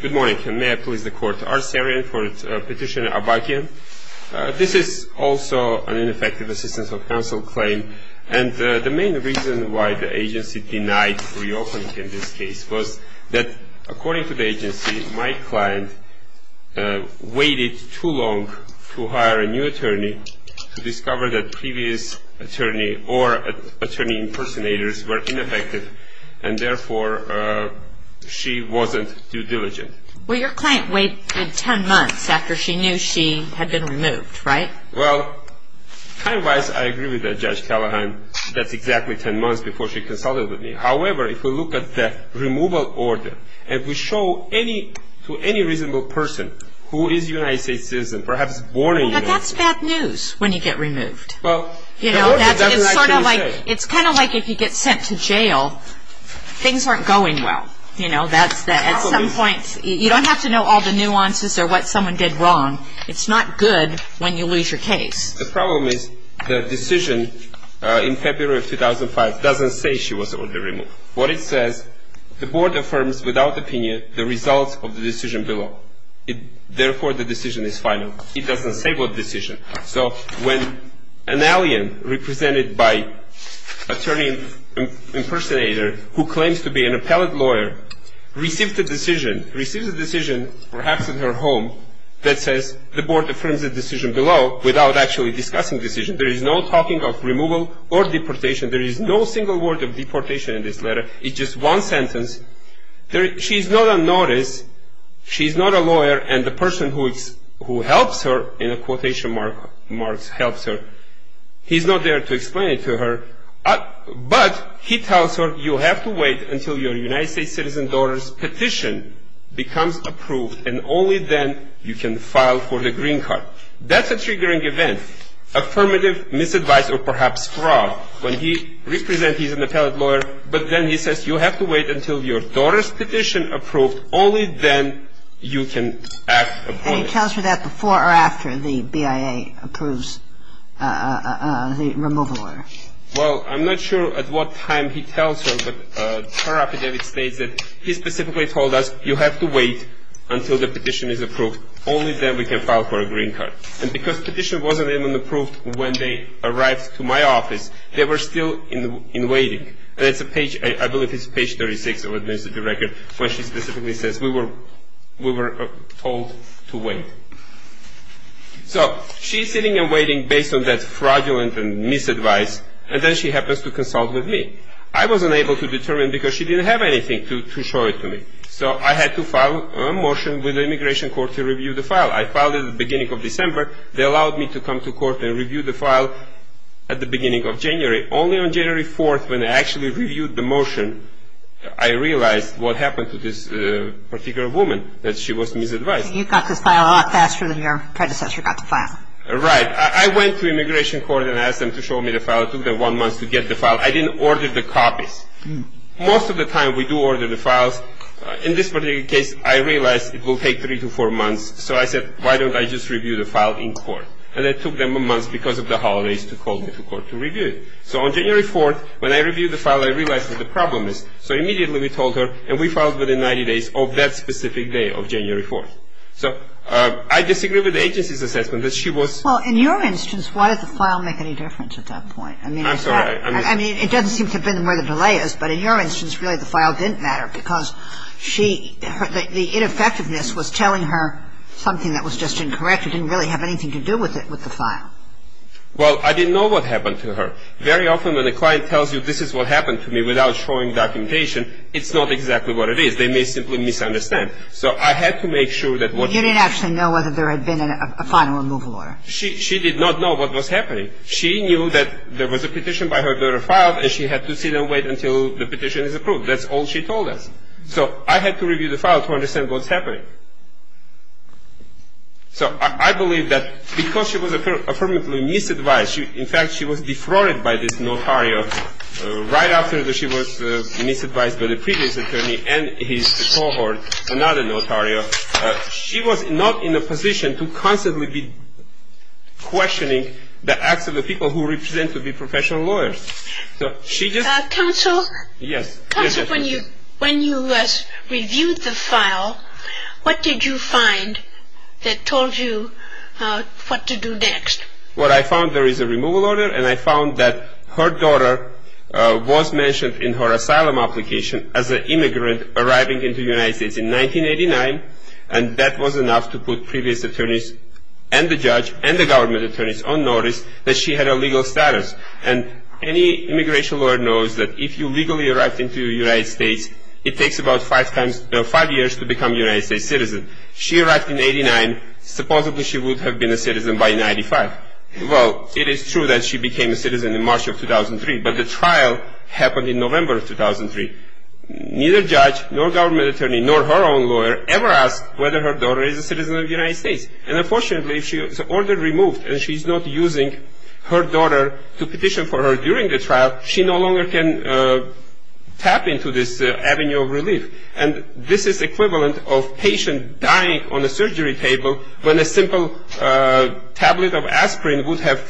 Good morning, and may I please the court. Arsarian for petitioner Abagyan. This is also an ineffective assistance of counsel claim, and the main reason why the agency denied reopening in this case was that, according to the agency, my client waited too long to hire a new attorney to discover that previous attorney or attorney impersonators were ineffective, and therefore she wasn't too diligent. Well, your client waited 10 months after she knew she had been removed, right? Well, time-wise, I agree with Judge Callahan. That's exactly 10 months before she consulted with me. However, if we look at the removal order and we show to any reasonable person who is a United States citizen, perhaps born in the United States what's bad news when you get removed? It's kind of like if you get sent to jail. Things aren't going well. At some point, you don't have to know all the nuances or what someone did wrong. It's not good when you lose your case. The problem is the decision in February 2005 doesn't say she was orderly removed. What it says, the board affirms without opinion the results of the decision below. Therefore, the decision is final. It doesn't say what decision. So when an alien represented by attorney impersonator who claims to be an appellate lawyer receives the decision, receives the decision perhaps in her home that says the board affirms the decision below without actually discussing the decision, there is no talking of removal or deportation. There is no single word of deportation in this letter. It's just one sentence. She's not unnoticed. She's not a lawyer. And the person who helps her, in a quotation mark, helps her, he's not there to explain it to her. But he tells her you have to wait until your United States citizen daughter's petition becomes approved, and only then you can file for the green card. That's a triggering event. And he tells her that before or after the BIA approves the removal order. Well, I'm not sure at what time he tells her, but her affidavit states that he specifically told us you have to wait until the petition is approved, only then we can file for a green card. And because the petition wasn't even approved, she's not there to explain it to her. So she's sitting and waiting based on that fraudulent and misadvice, and then she happens to consult with me. I wasn't able to determine because she didn't have anything to show it to me. So I had to file a motion with the Immigration Court to review the file. I filed it at the beginning of December. They allowed me to come to court and review the file. at the beginning of January. Only on January 4th when I actually reviewed the motion, I realized what happened to this particular woman, that she was misadvised. You got this file a lot faster than your predecessor got the file. Right. I went to Immigration Court and asked them to show me the file. It took them one month to get the file. I didn't order the copies. Most of the time we do order the files. In this particular case, I realized it will take three to four months. So I said, why don't I just review the file in court? And it took them a month because of the holidays to call me to court to review it. So on January 4th, when I reviewed the file, I realized what the problem is. So immediately we told her, and we filed within 90 days of that specific day of January 4th. So I disagree with the agency's assessment that she was Well, in your instance, why did the file make any difference at that point? I'm sorry. I mean, it doesn't seem to have been where the delay is, but in your instance, really the file didn't matter because she The ineffectiveness was telling her something that was just incorrect. It didn't really have anything to do with it, with the file. Well, I didn't know what happened to her. Very often when a client tells you this is what happened to me without showing documentation, it's not exactly what it is. They may simply misunderstand. So I had to make sure that what You didn't actually know whether there had been a final removal order. She did not know what was happening. She knew that there was a petition by her daughter filed, and she had to sit and wait until the petition is approved. That's all she told us. So I had to review the file to understand what's happening. So I believe that because she was affirmatively misadvised, in fact, she was defrauded by this notario right after she was misadvised by the previous attorney and his cohort, another notario, she was not in a position to constantly be questioning the acts of the people who represent to be professional lawyers. Counsel, when you reviewed the file, what did you find that told you what to do next? Well, I found there is a removal order, and I found that her daughter was mentioned in her asylum application as an immigrant arriving into the United States in 1989, and that was enough to put previous attorneys and the judge and the government attorneys on notice that she had a legal status. And any immigration lawyer knows that if you legally arrived into the United States, it takes about five years to become a United States citizen. She arrived in 1989. Supposedly, she would have been a citizen by 1995. Well, it is true that she became a citizen in March of 2003, but the trial happened in November of 2003. Neither judge nor government attorney nor her own lawyer ever asked whether her daughter is a citizen of the United States. And unfortunately, if the order is removed and she's not using her daughter to petition for her during the trial, she no longer can tap into this avenue of relief. And this is equivalent of a patient dying on a surgery table when a simple tablet of aspirin would have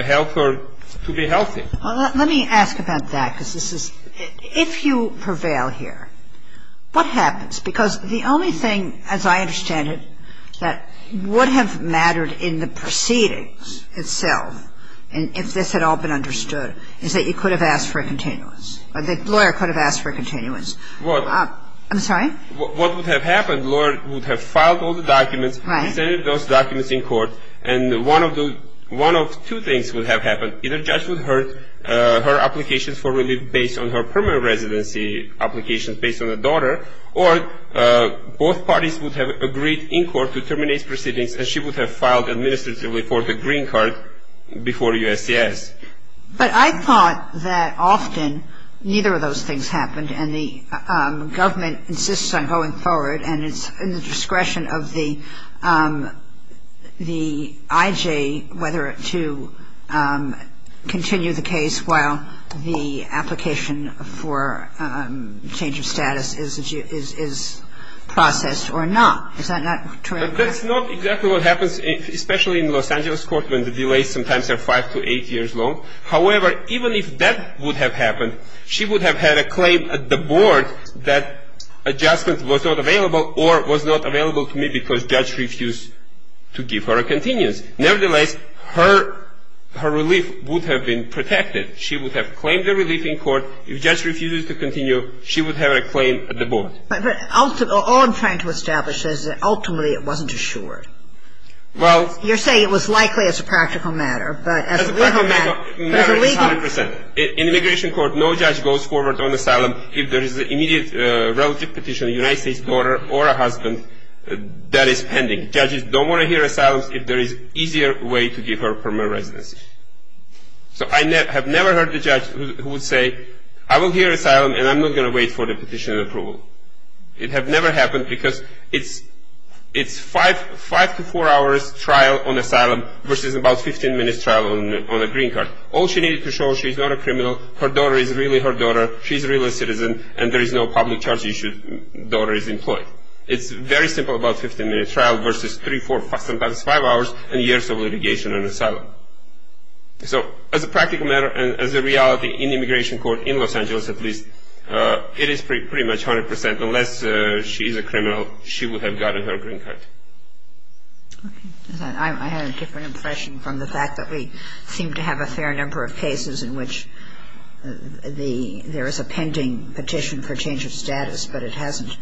helped her to be healthy. Well, let me ask about that, because this is — if you prevail here, what happens? Because the only thing, as I understand it, that would have mattered in the proceedings itself, and if this had all been understood, is that you could have asked for a continuance, or the lawyer could have asked for a continuance. I'm sorry? What would have happened, the lawyer would have filed all the documents, presented those documents in court, and one of the — one of two things would have happened. Either judge would have heard her applications for relief based on her permanent residency applications, based on the daughter, or both parties would have agreed in court to terminate proceedings, and she would have filed administratively for the green card before USCIS. But I thought that often neither of those things happened, and the government insists on going forward, and it's in the discretion of the IJ whether to continue the case while the application for change of status is processed or not. Is that not true? That's not exactly what happens, especially in Los Angeles court when the delays sometimes are five to eight years long. However, even if that would have happened, she would have had a claim at the board that adjustment was not available or was not available to me because judge refused to give her a continuance. Nevertheless, her relief would have been protected. She would have claimed the relief in court. If judge refuses to continue, she would have a claim at the board. But ultimately — all I'm trying to establish is that ultimately it wasn't assured. Well — You're saying it was likely as a practical matter, but as a legal matter — As a legal matter, 100 percent. In immigration court, no judge goes forward on asylum if there is an immediate relative petition, a United States daughter or a husband, that is pending. Judges don't want to hear asylums if there is an easier way to give her permanent residency. So I have never heard a judge who would say, I will hear asylum and I'm not going to wait for the petition approval. It has never happened because it's five to four hours trial on asylum versus about 15 minutes trial on a green card. All she needed to show was she's not a criminal, her daughter is really her daughter, she's a real citizen, and there is no public charge issue if the daughter is employed. It's very simple, about 15 minutes trial versus three, four, sometimes five hours and years of litigation and asylum. So as a practical matter and as a reality in immigration court, in Los Angeles at least, it is pretty much 100 percent. Unless she's a criminal, she would have gotten her green card. I had a different impression from the fact that we seem to have a fair number of cases in which there is a pending petition for change of status, but it hasn't.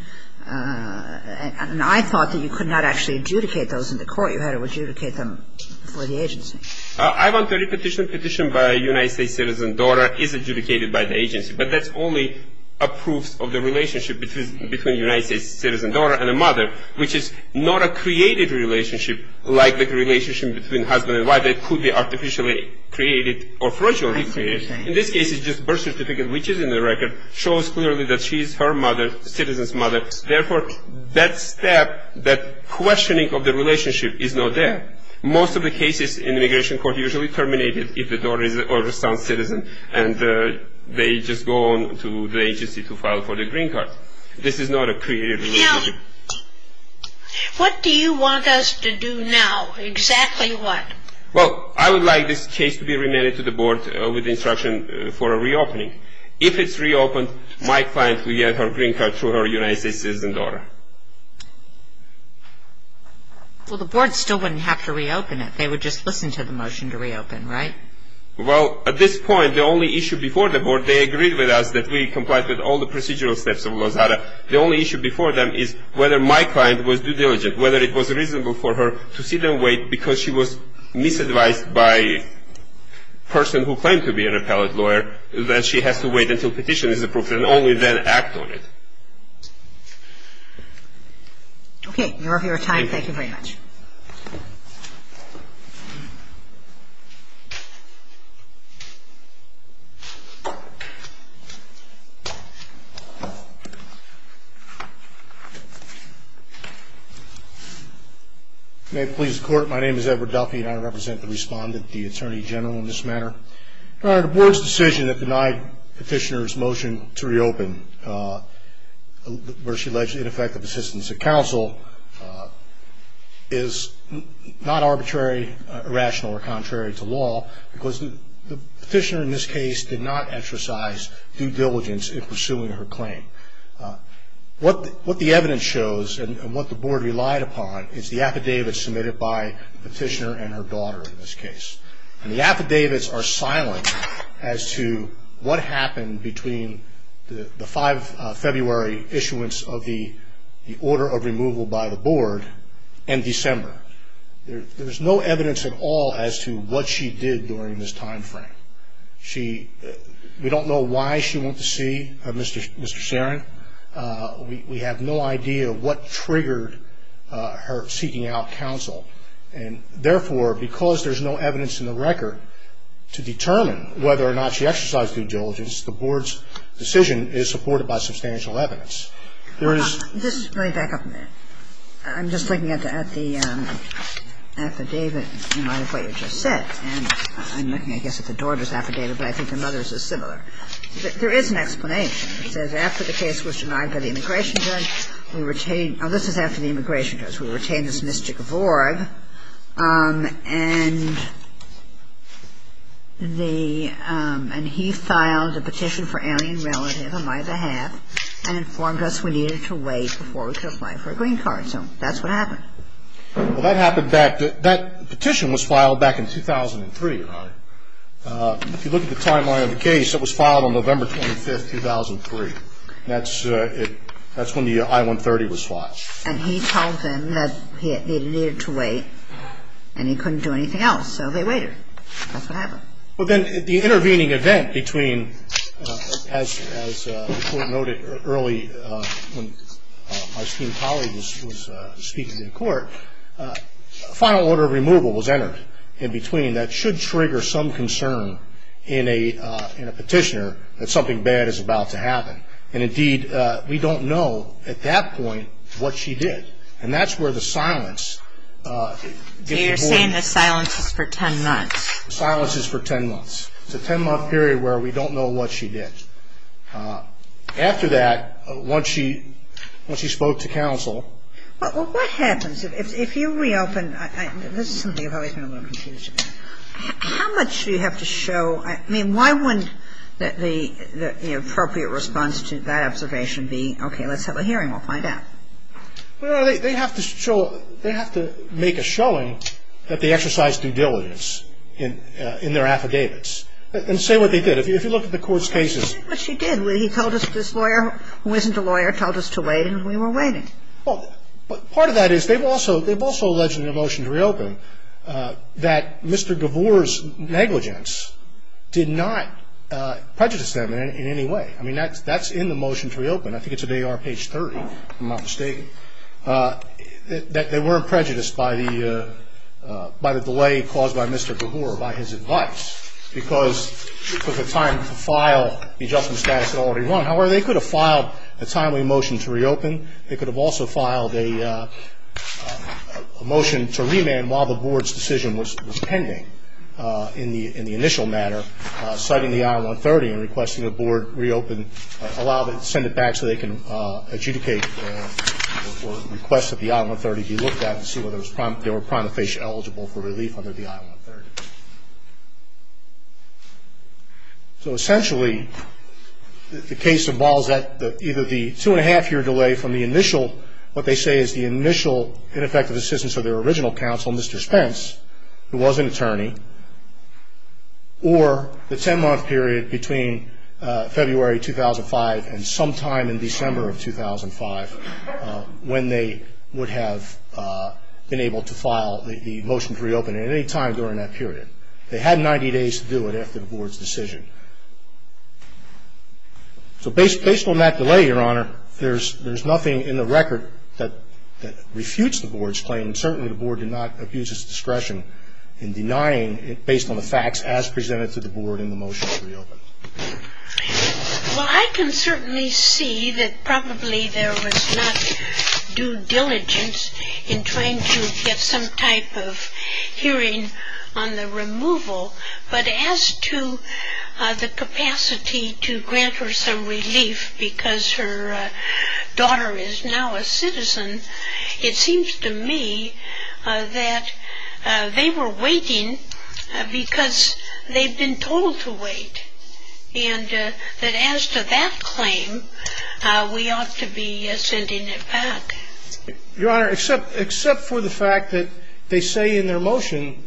And I thought that you could not actually adjudicate those in the court. You had to adjudicate them for the agency. I want every petition by a United States citizen daughter is adjudicated by the agency, but that's only a proof of the relationship between a United States citizen daughter and a mother, which is not a created relationship like the relationship between husband and wife. It could be artificially created or fraudulently created. I see what you're saying. In this case, it's just birth certificate, which is in the record, shows clearly that she's her mother, citizen's mother. Therefore, that step, that questioning of the relationship is not there. Most of the cases in immigration court usually terminate if the daughter or son is a citizen and they just go on to the agency to file for the green card. This is not a created relationship. Now, what do you want us to do now? Exactly what? Well, I would like this case to be remanded to the board with instruction for a reopening. If it's reopened, my client will get her green card through her United States citizen daughter. Well, the board still wouldn't have to reopen it. They would just listen to the motion to reopen, right? Well, at this point, the only issue before the board, they agreed with us that we complied with all the procedural steps of Lozada. The only issue before them is whether my client was due diligent, whether it was reasonable for her to sit and wait because she was misadvised by a person who claimed to be an appellate lawyer, that she has to wait until petition is approved and only then act on it. Okay. May it please the court, my name is Edward Duffy and I represent the respondent, the attorney general in this matter. Your Honor, the board's decision that denied petitioner's motion to reopen, where she alleged ineffective assistance of counsel, is not arbitrary, irrational, or contrary to law because the petitioner in this case did not exercise due diligence in pursuing her claim. What the evidence shows and what the board relied upon is the affidavits submitted by the petitioner and her daughter in this case. And the affidavits are silent as to what happened between the 5 February issuance of the order of removal by the board and December. There is no evidence at all as to what she did during this time frame. We don't know why she went to see Mr. Sharon. We have no idea what triggered her seeking out counsel. And therefore, because there's no evidence in the record to determine whether or not she exercised due diligence, the board's decision is supported by substantial evidence. Just let me back up a minute. I'm just looking at the affidavit in light of what you just said. And I'm looking, I guess, at the daughter's affidavit, but I think the mother's is similar. There is an explanation. It says, after the case was denied by the immigration judge, we retained – oh, this is after the immigration judge, we retained this mystic vorg. And he filed a petition for alien relative on my behalf and informed us we needed to wait before we could apply for a green card. So that's what happened. Well, that happened back – that petition was filed back in 2003, right? If you look at the timeline of the case, it was filed on November 25, 2003. That's when the I-130 was filed. And he told them that he needed to wait and he couldn't do anything else, so they waited. That's what happened. Well, then the intervening event between, as the court noted early, when my esteemed colleague was speaking in court, a final order of removal was entered in between that should trigger some concern in a petitioner that something bad is about to happen. And, indeed, we don't know at that point what she did. And that's where the silence – You're saying the silence is for 10 months. The silence is for 10 months. It's a 10-month period where we don't know what she did. After that, once she spoke to counsel – Well, what happens if you reopen – this is something I've always been a little confused about. How much do you have to show – I mean, why wouldn't the appropriate response to that observation be, okay, let's have a hearing, we'll find out? Well, they have to show – they have to make a showing that they exercised due diligence in their affidavits and say what they did. If you look at the Court's cases – But she did what she did, where he told us this lawyer, who isn't a lawyer, told us to wait and we were waiting. Well, part of that is they've also alleged in their motion to reopen that Mr. Gavour's negligence did not prejudice them in any way. I mean, that's in the motion to reopen. I think it's in AR page 30, if I'm not mistaken, that they weren't prejudiced by the delay caused by Mr. Gavour, by his advice, because it took the time to file the adjustment status that had already run. However, they could have filed a timely motion to reopen. They could have also filed a motion to remand while the Board's decision was pending in the initial matter, citing the I-130 and requesting the Board reopen – send it back so they can adjudicate or request that the I-130 be looked at and see whether they were prima facie eligible for relief under the I-130. So essentially, the case involves either the two-and-a-half-year delay from the initial – what they say is the initial ineffective assistance of their original counsel, Mr. Spence, who was an attorney, or the ten-month period between February 2005 and sometime in December of 2005 when they would have been able to file the motion to reopen. They had 90 days to do it after the Board's decision. So based on that delay, Your Honor, there's nothing in the record that refutes the Board's claim. Certainly, the Board did not abuse its discretion in denying it based on the facts as presented to the Board in the motion to reopen. Well, I can certainly see that probably there was not due diligence in trying to get some type of hearing on the removal. But as to the capacity to grant her some relief because her daughter is now a citizen, it seems to me that they were waiting because they've been told to wait, and that as to that claim, we ought to be sending it back. Your Honor, except for the fact that they say in their motion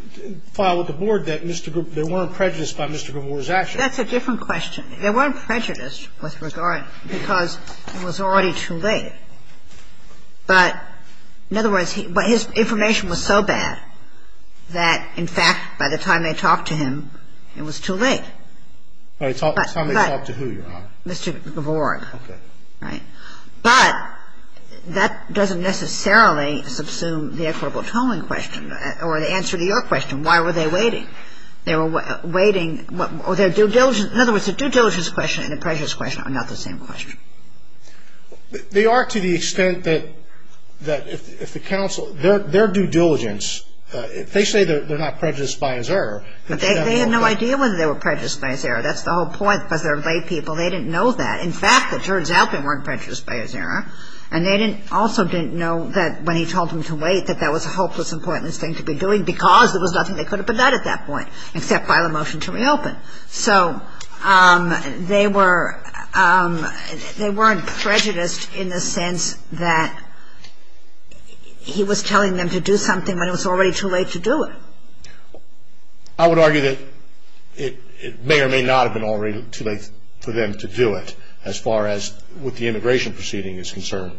filed with the Board that they weren't prejudiced by Mr. Gavorg's actions. That's a different question. They weren't prejudiced with regard because it was already too late. But in other words, his information was so bad that, in fact, by the time they talked to him, it was too late. By the time they talked to who, Your Honor? Mr. Gavorg. Okay. But that doesn't necessarily subsume the equitable tolling question or the answer to your question, why were they waiting? They were waiting or their due diligence. In other words, the due diligence question and the prejudice question are not the same question. They are to the extent that if the counsel, their due diligence, they say they're not prejudiced by his error. But they had no idea whether they were prejudiced by his error. That's the whole point because they're lay people. They didn't know that. In fact, it turns out they weren't prejudiced by his error. And they also didn't know that when he told them to wait, that that was a hopeless and pointless thing to be doing because there was nothing they could have done at that point except file a motion to reopen. So they weren't prejudiced in the sense that he was telling them to do something when it was already too late to do it. I would argue that it may or may not have been already too late for them to do it as far as what the immigration proceeding is concerned.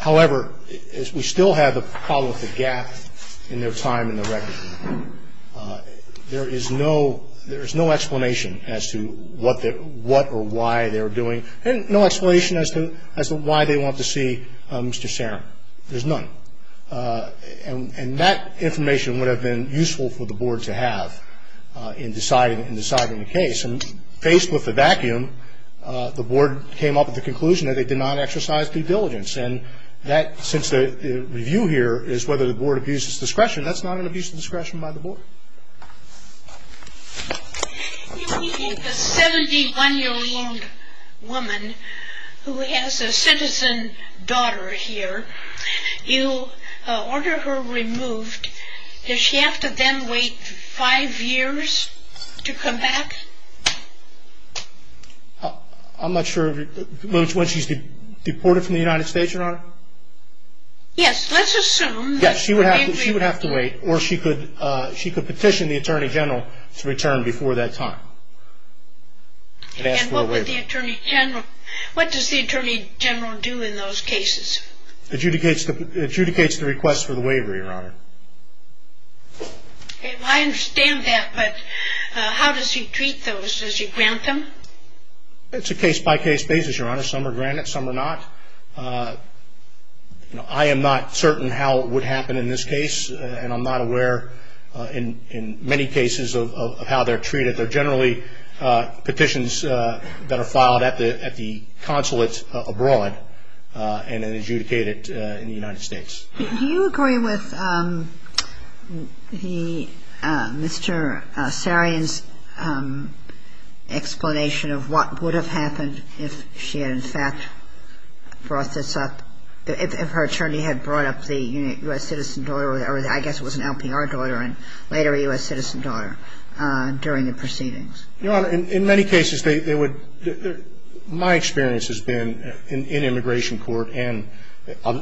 However, we still have the problem with the gap in their time in the record. There is no explanation as to what or why they were doing and no explanation as to why they want to see Mr. Serum. There's none. And that information would have been useful for the board to have in deciding the case. And faced with the vacuum, the board came up with the conclusion that they did not exercise due diligence. And since the review here is whether the board abuses discretion, that's not an abuse of discretion by the board. If you take a 71-year-old woman who has a citizen daughter here, you order her removed. Does she have to then wait five years to come back? I'm not sure. Once she's deported from the United States, Your Honor? Yes, let's assume. Yes, she would have to wait or she could petition the Attorney General to return before that time. And ask for a waiver. And what does the Attorney General do in those cases? Adjudicates the request for the waiver, Your Honor. I understand that, but how does he treat those? Does he grant them? It's a case-by-case basis, Your Honor. Some are granted, some are not. I am not certain how it would happen in this case, and I'm not aware in many cases of how they're treated. They're generally petitions that are filed at the consulate abroad and then adjudicated in the United States. Do you agree with Mr. Sarian's explanation of what would have happened if she had, in fact, brought this up, if her attorney had brought up the U.S. citizen daughter or I guess it was an LPR daughter and later a U.S. citizen daughter during the proceedings? Your Honor, in many cases, they would – my experience has been in immigration court and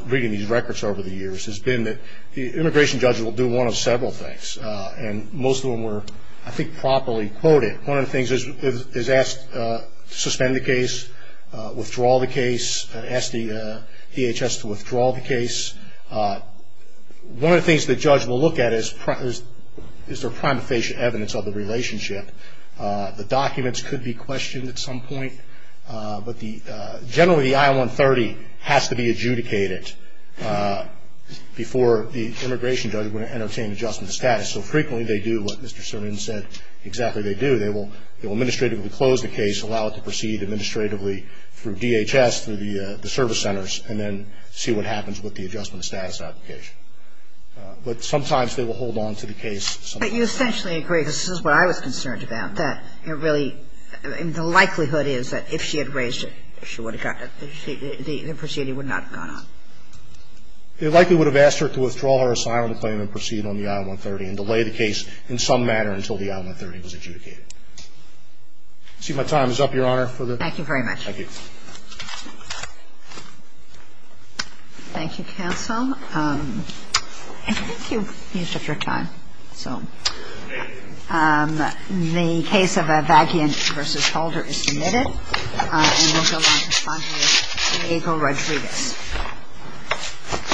reading these records over the years, has been that the immigration judge will do one of several things, and most of them were, I think, properly quoted. One of the things is suspend the case, withdraw the case, ask the DHS to withdraw the case. One of the things the judge will look at is is there prima facie evidence of the relationship. The documents could be questioned at some point, but generally the I-130 has to be adjudicated before the immigration judge would entertain adjustment of status. So frequently they do what Mr. Sarian said exactly they do. They will administratively close the case, allow it to proceed administratively through DHS, through the service centers, and then see what happens with the adjustment of status application. But sometimes they will hold on to the case. But you essentially agree, this is what I was concerned about, that it really – the likelihood is that if she had raised it, the proceeding would not have gone on. They likely would have asked her to withdraw her asylum claim and proceed on the I-130 and delay the case in some manner until the I-130 was adjudicated. I see my time is up, Your Honor. Thank you very much. Thank you. Thank you, counsel. I think you've used up your time, so. The case of Avakian v. Holder is submitted. And we'll go on to respond to Diego Rodriguez.